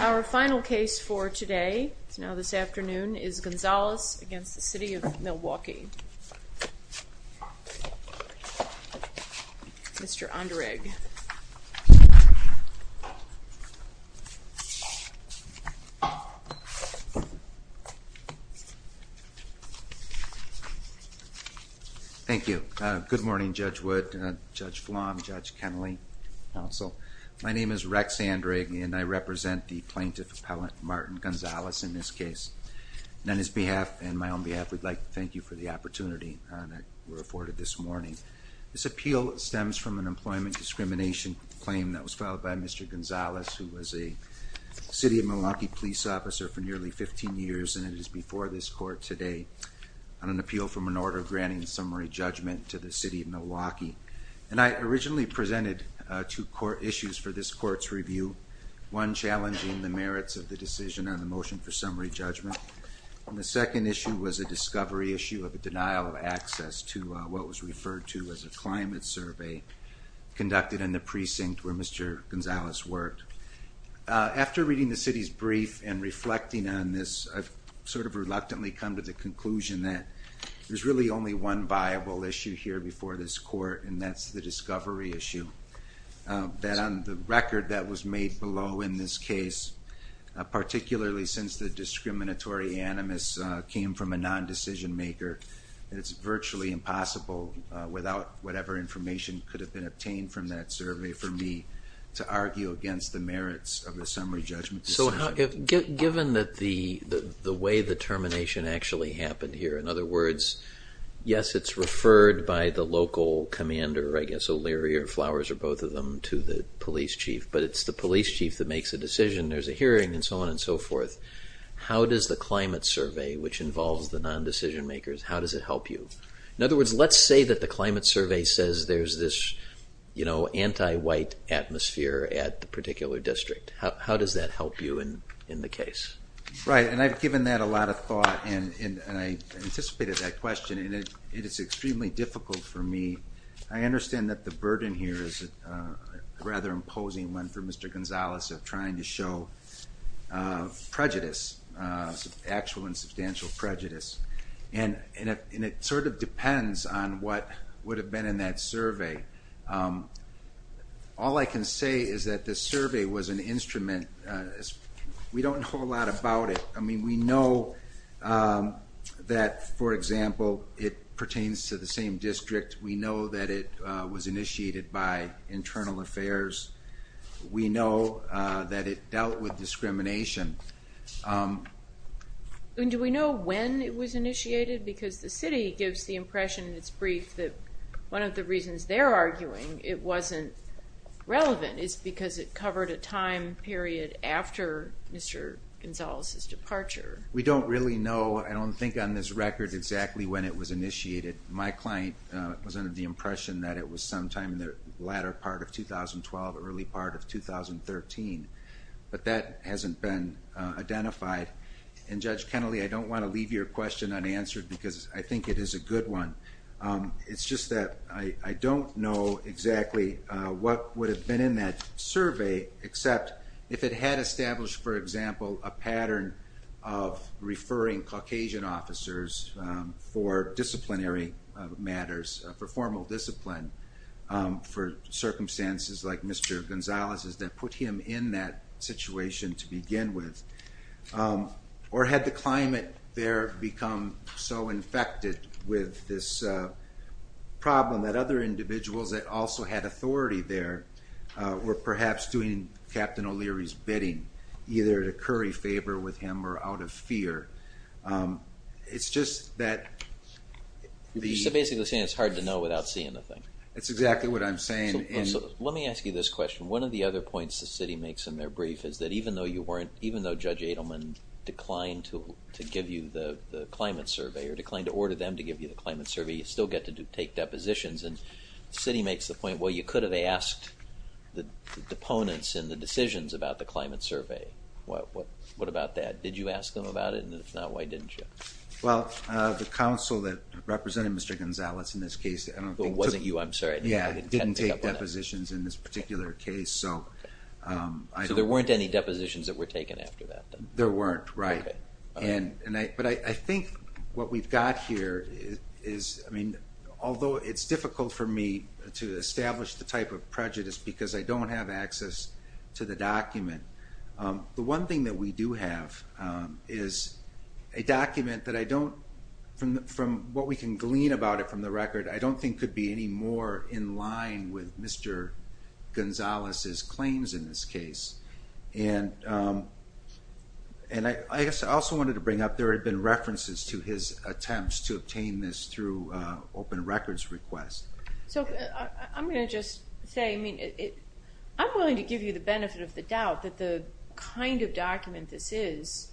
Our final case for today, now this afternoon, is Gonzalez v. City of Milwaukee. Mr. Onderegg. Thank you. Thank you. Good morning Judge Wood, Judge Flom, Judge Kennelly, counsel. My name is Rex Onderegg and I represent the plaintiff appellant Martin Gonzalez in this case. And on his behalf, and my own behalf, we'd like to thank you for the opportunity that we're afforded this morning. This appeal stems from an employment discrimination claim that was filed by Mr. Gonzalez who was a City of Milwaukee police officer for nearly 15 years and it is before this court today on an appeal from an order granting summary judgment to the City of Milwaukee. And I originally presented two core issues for this court's review. One challenging the merits of the decision on the motion for summary judgment and the issue as a climate survey conducted in the precinct where Mr. Gonzalez worked. After reading the City's brief and reflecting on this, I've sort of reluctantly come to the conclusion that there's really only one viable issue here before this court and that's the discovery issue. That on the record that was made below in this case, particularly since the discriminatory animus came from a non-decision maker, it's virtually impossible without whatever information could have been obtained from that survey for me to argue against the merits of a summary judgment decision. So given that the way the termination actually happened here, in other words, yes it's referred by the local commander, I guess O'Leary or Flowers or both of them to the police chief, but it's the police chief that makes a decision, there's a hearing and so on and so forth. How does the climate survey, which involves the non-decision makers, how does it help you? In other words, let's say that the climate survey says there's this, you know, anti-white atmosphere at the particular district. How does that help you in the case? Right, and I've given that a lot of thought and I anticipated that question and it is extremely difficult for me. I understand that the burden here is rather imposing one for Mr. Gonzalez of trying to find substantial prejudice, actual and substantial prejudice and it sort of depends on what would have been in that survey. All I can say is that the survey was an instrument, we don't know a lot about it, I mean we know that for example, it pertains to the same district, we know that it was initiated by Internal Affairs, we know that it dealt with discrimination. And do we know when it was initiated? Because the city gives the impression in its brief that one of the reasons they're arguing it wasn't relevant is because it covered a time period after Mr. Gonzalez's departure. We don't really know, I don't think on this record exactly when it was initiated. My client was under the impression that it was sometime in the latter part of 2012, early part of 2013, but that hasn't been identified. And Judge Kennelly, I don't want to leave your question unanswered because I think it is a good one, it's just that I don't know exactly what would have been in that survey except if it had established for example, a pattern of referring Caucasian officers for disciplinary matters, for formal discipline for circumstances like Mr. Gonzalez's that put him in that situation to begin with. Or had the climate there become so infected with this problem that other individuals that also had authority there were perhaps doing Captain O'Leary's bidding, either to curry favor with him or out of fear. It's just that the... So basically you're saying it's hard to know without seeing the thing. That's exactly what I'm saying. Let me ask you this question. One of the other points the city makes in their brief is that even though you weren't, even though Judge Adelman declined to give you the climate survey or declined to order them to give you the climate survey, you still get to take depositions and the city makes the point, well you could have asked the opponents in the decisions about the climate survey. What about that? Did you ask them about it and if not, why didn't you? Well, the council that represented Mr. Gonzalez in this case, I don't think took... It wasn't you, I'm sorry. Yeah, I didn't take depositions in this particular case, so... So there weren't any depositions that were taken after that then? There weren't, right. Okay. But I think what we've got here is, I mean, although it's difficult for me to establish the type of prejudice because I don't have access to the document, the one thing that we do have is a document that I don't, from what we can glean about it from the record, I don't think could be any more in line with Mr. Gonzalez's claims in this case. And I guess I also wanted to bring up, there had been references to his attempts to obtain this through open records request. So I'm going to just say, I mean, I'm willing to give you the benefit of the doubt that the kind of document this is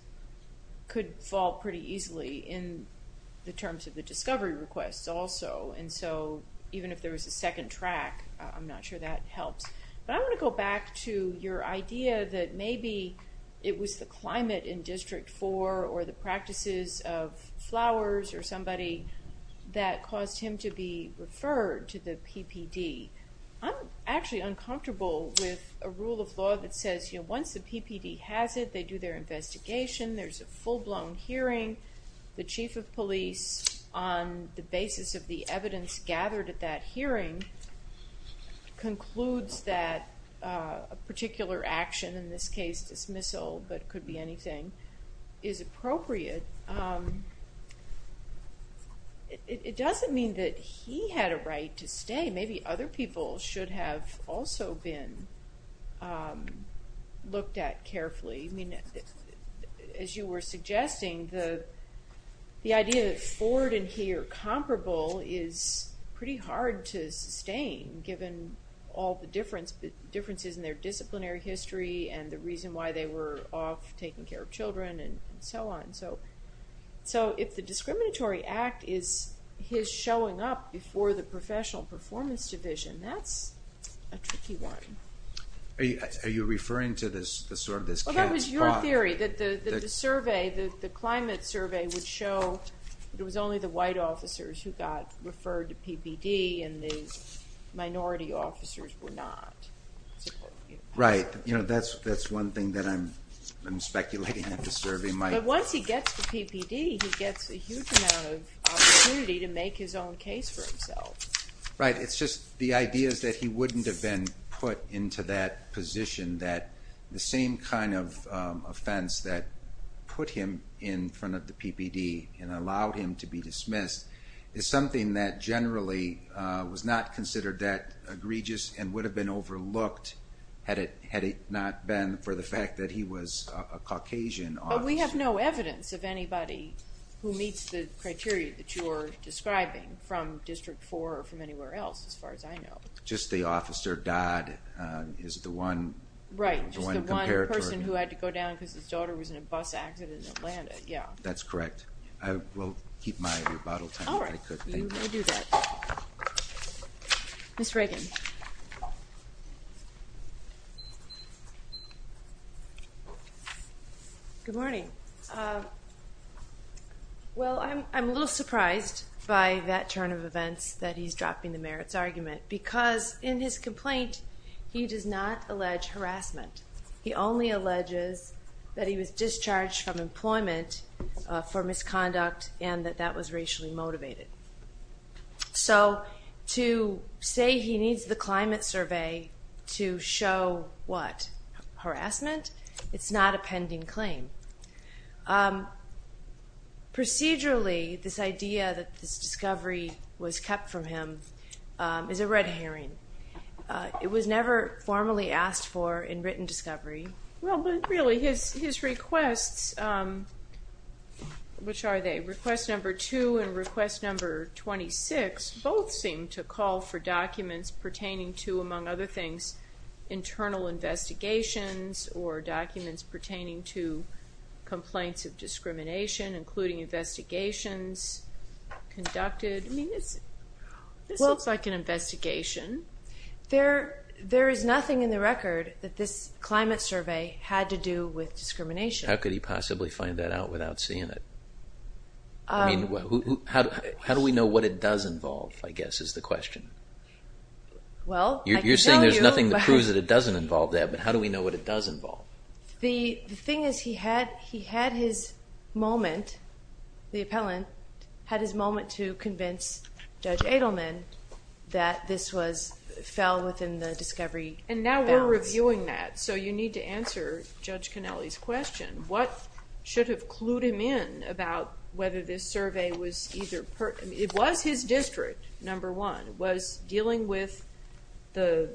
could fall pretty easily in the terms of the discovery requests also. And so even if there was a second track, I'm not sure that helps. But I want to go back to your idea that maybe it was the climate in District 4 or the practices of flowers or somebody that caused him to be referred to the PPD. I'm actually uncomfortable with a rule of law that says, once the PPD has it, they do their investigation, there's a full-blown hearing, the chief of police, on the basis of the evidence gathered at that hearing, concludes that a particular action, in this case dismissal, but it could be anything, is appropriate. It doesn't mean that he had a right to stay. Maybe other people should have also been looked at carefully. As you were suggesting, the idea that Ford and he are comparable is pretty hard to sustain given all the differences in their disciplinary history and the reason why they were off taking care of children and so on. So if the discriminatory act is his showing up before the professional performance division, that's a tricky one. Are you referring to this sort of this cat's paw? Well, that was your theory, that the survey, the climate survey would show it was only the white officers who got referred to PPD and the minority officers were not. Right. But that's one thing that I'm speculating that the survey might. But once he gets to PPD, he gets a huge amount of opportunity to make his own case for himself. Right, it's just the idea is that he wouldn't have been put into that position that the same kind of offense that put him in front of the PPD and allowed him to be dismissed is something that generally was not considered that egregious and would have been overlooked had it not been for the fact that he was a Caucasian officer. But we have no evidence of anybody who meets the criteria that you're describing from District 4 or from anywhere else as far as I know. Just the officer Dodd is the one. Right, just the one person who had to go down because his daughter was in a bus accident in Atlanta, yeah. That's correct. I will keep my rebuttal time if I could. All right, you may do that. Ms. Reagan. Good morning. Well, I'm a little surprised by that turn of events that he's dropping the merits argument because in his complaint, he does not allege harassment. He only alleges that he was discharged from employment for misconduct and that that was So to say he needs the climate survey to show what? Harassment? It's not a pending claim. Procedurally, this idea that this discovery was kept from him is a red herring. It was never formally asked for in written discovery. Well, but really his requests, which are they? Request number 2 and request number 26 both seem to call for documents pertaining to, among other things, internal investigations or documents pertaining to complaints of discrimination, including investigations conducted. I mean, this looks like an investigation. There is nothing in the record that this climate survey had to do with discrimination. How could he possibly find that out without seeing it? I mean, how do we know what it does involve, I guess, is the question. Well, I can tell you. You're saying there's nothing that proves that it doesn't involve that, but how do we know what it does involve? The thing is he had his moment, the appellant had his moment to convince Judge Edelman that this fell within the discovery bounds. And now we're reviewing that, so you need to answer Judge Connelly's question. What should have clued him in about whether this survey was either, it was his district, number one, was dealing with the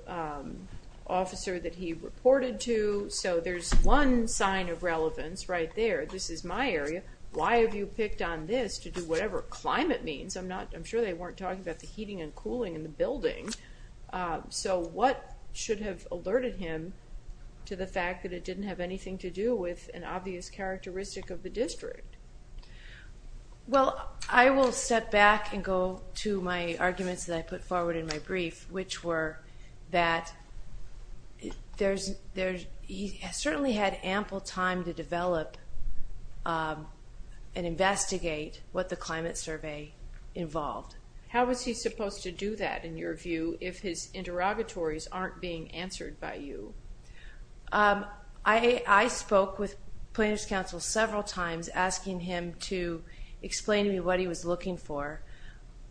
officer that he reported to. So there's one sign of relevance right there. This is my area. Why have you picked on this to do whatever climate means? I'm sure they weren't talking about the heating and cooling in the building. So what should have alerted him to the fact that it didn't have anything to do with an obvious characteristic of the district? Well, I will step back and go to my arguments that I put forward in my brief, which were that he certainly had ample time to develop and investigate what the climate survey involved. How was he supposed to do that, in your view, if his interrogatories aren't being answered by you? I spoke with Planners Council several times asking him to explain to me what he was looking for.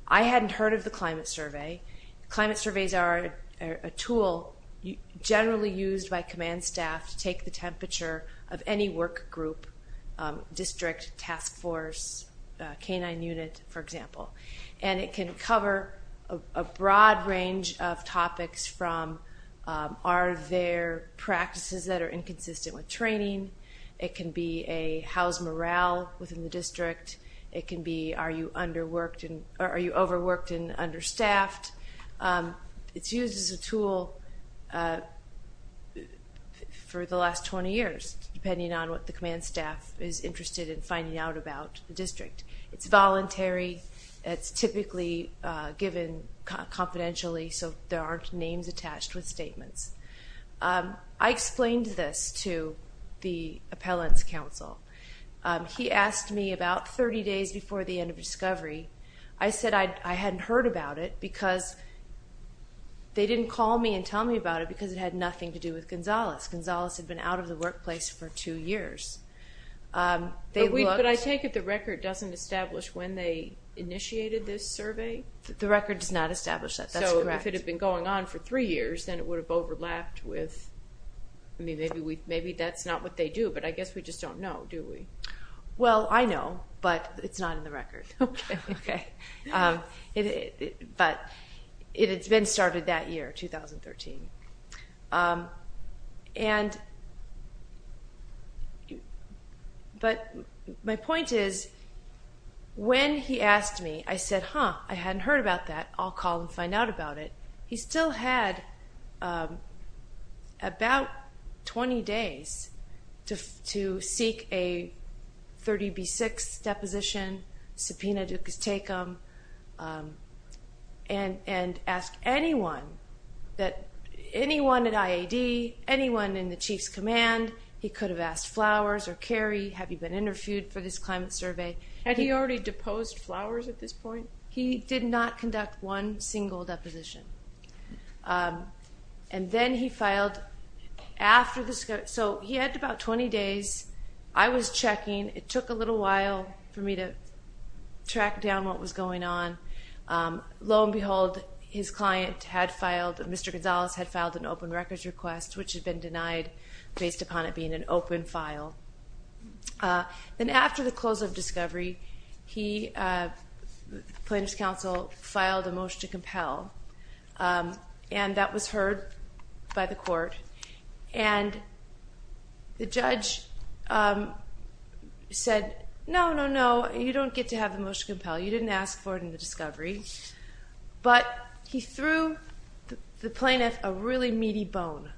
I hadn't heard of the climate survey. Climate surveys are a tool generally used by command staff to take the temperature of any work group, district, task force, canine unit, for example. And it can cover a broad range of topics from, are there practices that are inconsistent with training? It can be a house morale within the district. It can be, are you overworked and understaffed? It's used as a tool for the last 20 years, depending on what the command staff is interested in finding out about the district. It's voluntary, it's typically given confidentially, so there aren't names attached with statements. I explained this to the Appellants Council. He asked me about 30 days before the end of discovery. I said I hadn't heard about it because they didn't call me and tell me about it because it had nothing to do with Gonzales. Gonzales had been out of the workplace for two years. But I take it the record doesn't establish when they initiated this survey? The record does not establish that, that's correct. So if it had been going on for three years, then it would have overlapped with, maybe that's not what they do, but I guess we just don't know, do we? Well, I know, but it's not in the record. But it had been started that year, 2013. But my point is, when he asked me, I said, huh, I hadn't heard about that, I'll call and find out about it. He still had about 20 days to seek a 30B6 deposition, subpoena ducas tecum, and ask anyone, anyone at IAD, anyone in the Chief's Command, he could have asked Flowers or Kerry, have you been interviewed for this climate survey? Had he already deposed Flowers at this point? He did not conduct one single deposition. And then he filed after the, so he had about 20 days, I was checking, it took a little while for me to track down what was going on. Lo and behold, his client had filed, Mr. Gonzalez had filed an open records request, which had been denied based upon it being an open file. Then after the close of discovery, he, plaintiff's counsel, filed a motion to compel. And that was heard by the court. And the judge said, no, no, no, you don't get to have the motion to compel, you didn't ask for it in the discovery. But he threw the plaintiff a really meaty bone.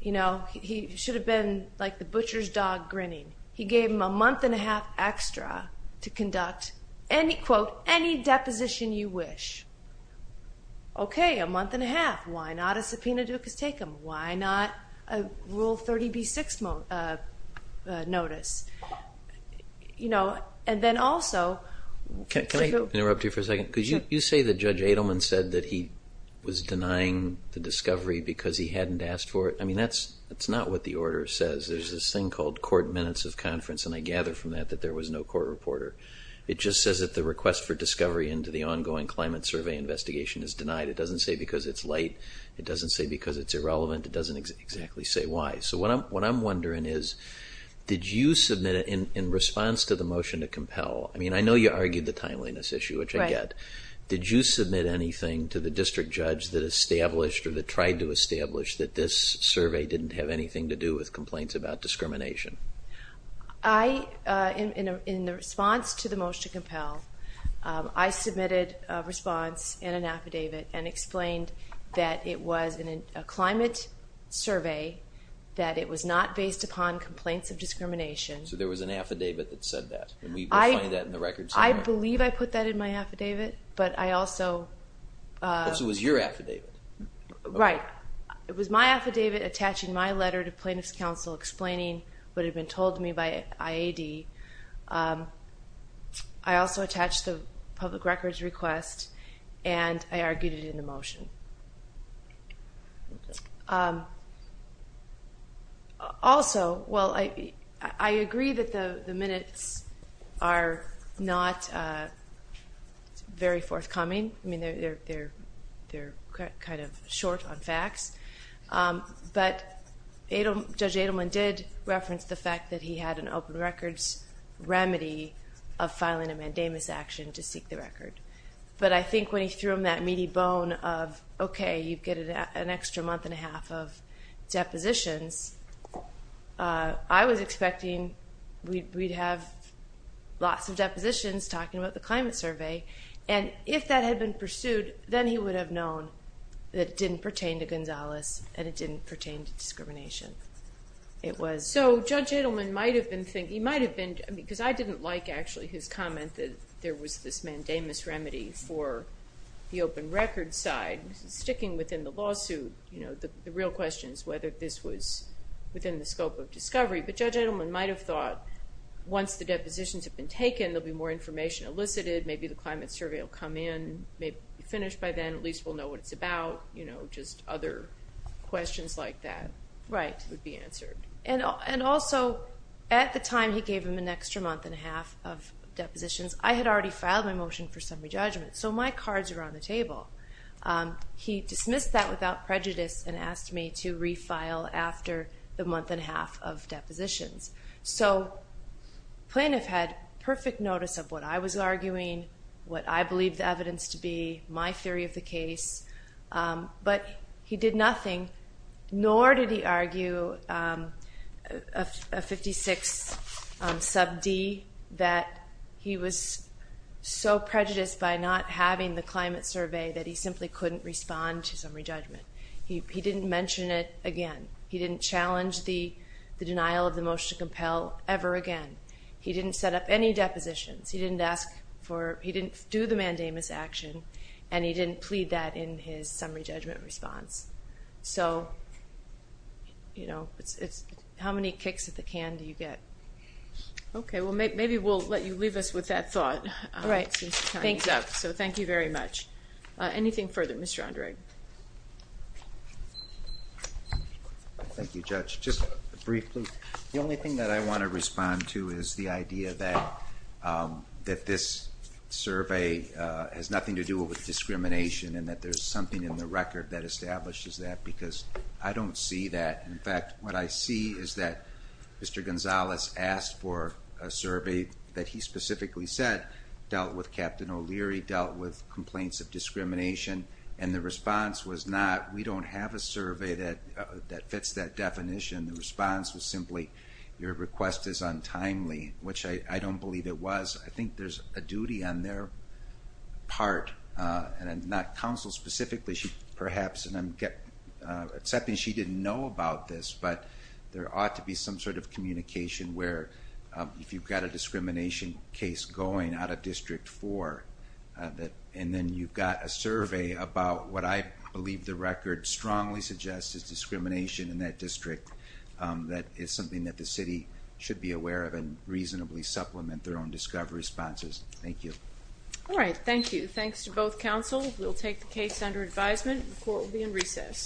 You know, he should have been like the butcher's dog grinning. He gave him a month and a half extra to conduct any, quote, any deposition you wish. Okay, a month and a half, why not a subpoena ducas tecum? Why not a Rule 30b-6 notice? You know, and then also... Can I interrupt you for a second? Could you say that Judge Adelman said that he was denying the discovery because he hadn't asked for it? I mean, that's not what the order says. There's this thing called court minutes of conference, and I gather from that that there was no court reporter. It just says that the request for discovery into the ongoing climate survey investigation is denied. It doesn't say because it's late. It doesn't say because it's irrelevant. It doesn't exactly say why. So what I'm wondering is, did you submit it in response to the motion to compel? I mean, I know you argued the timeliness issue, which I get. Did you submit anything to the district judge that established or that tried to establish that this survey didn't have anything to do with complaints about discrimination? I, in the response to the motion to compel, I submitted a response and an affidavit and explained that it was a climate survey, that it was not based upon complaints of discrimination. So there was an affidavit that said that? I believe I put that in my affidavit, but I also... Because it was your affidavit. Right. It was my affidavit attaching my letter to plaintiff's counsel explaining what had been told to me by IAD. I also attached the public records request, and I argued it in the motion. Also, well, I agree that the minutes are not very forthcoming. I mean, they're kind of short on facts. But Judge Adelman did reference the fact that he had an open records remedy of filing a mandamus action to seek the record. But I think when he threw him that meaty bone of, okay, you get an extra month and a half of depositions, I was expecting we'd have lots of depositions talking about the climate survey. And if that had been pursued, then he would have known that it didn't pertain to Gonzalez, and it didn't pertain to discrimination. It was... So Judge Adelman might have been thinking... He might have been... Because I didn't like, actually, his comment that there was this mandamus remedy for the open records side. Sticking within the lawsuit, the real question is whether this was within the scope of discovery. But Judge Adelman might have thought once the depositions have been taken, there'll be more information elicited. Maybe the climate survey will come in, may be finished by then. At least we'll know what it's about. Just other questions like that would be answered. Right. And also, at the time he gave him an extra month and a half of depositions, I had already filed my motion for summary judgment. So my cards were on the table. He dismissed that without prejudice and asked me to refile after the month and a half of depositions. So the plaintiff had perfect notice of what I was arguing, what I believed the evidence to be, my theory of the case. But he did nothing, nor did he argue a 56 sub D that he was so prejudiced by not having the climate survey that he simply couldn't respond to summary judgment. He didn't mention it again. He didn't challenge the denial of the motion to compel ever again. He didn't set up any depositions. He didn't ask for, he didn't do the mandamus action, and he didn't plead that in his summary judgment response. So, you know, how many kicks at the can do you get? Okay, well maybe we'll let you leave us with that thought. So thank you very much. Anything further? Mr. Andre? Thank you, Judge. Just briefly, the only thing that I want to respond to is the idea that that this survey has nothing to do with discrimination and that there's something in the record that establishes that because I don't see that. In fact, what I see is that Mr. Gonzalez asked for a survey that he specifically said dealt with Captain O'Leary, dealt with complaints of discrimination, and the response was not, we don't have a survey that fits that definition. The response was simply your request is untimely, which I don't believe it was. I think there's a duty on their part, and not counsel specifically, perhaps and I'm accepting she didn't know about this, but there ought to be some sort of communication where if you've got a discrimination case going out of District 4, and then you've got a survey about what I believe the record strongly suggests is discrimination in that district, that is something that the city should be aware of and reasonably supplement their own discovery responses. Thank you. Alright, thank you. Thanks to both counsel. We'll take the case under advisement. The court will be in recess.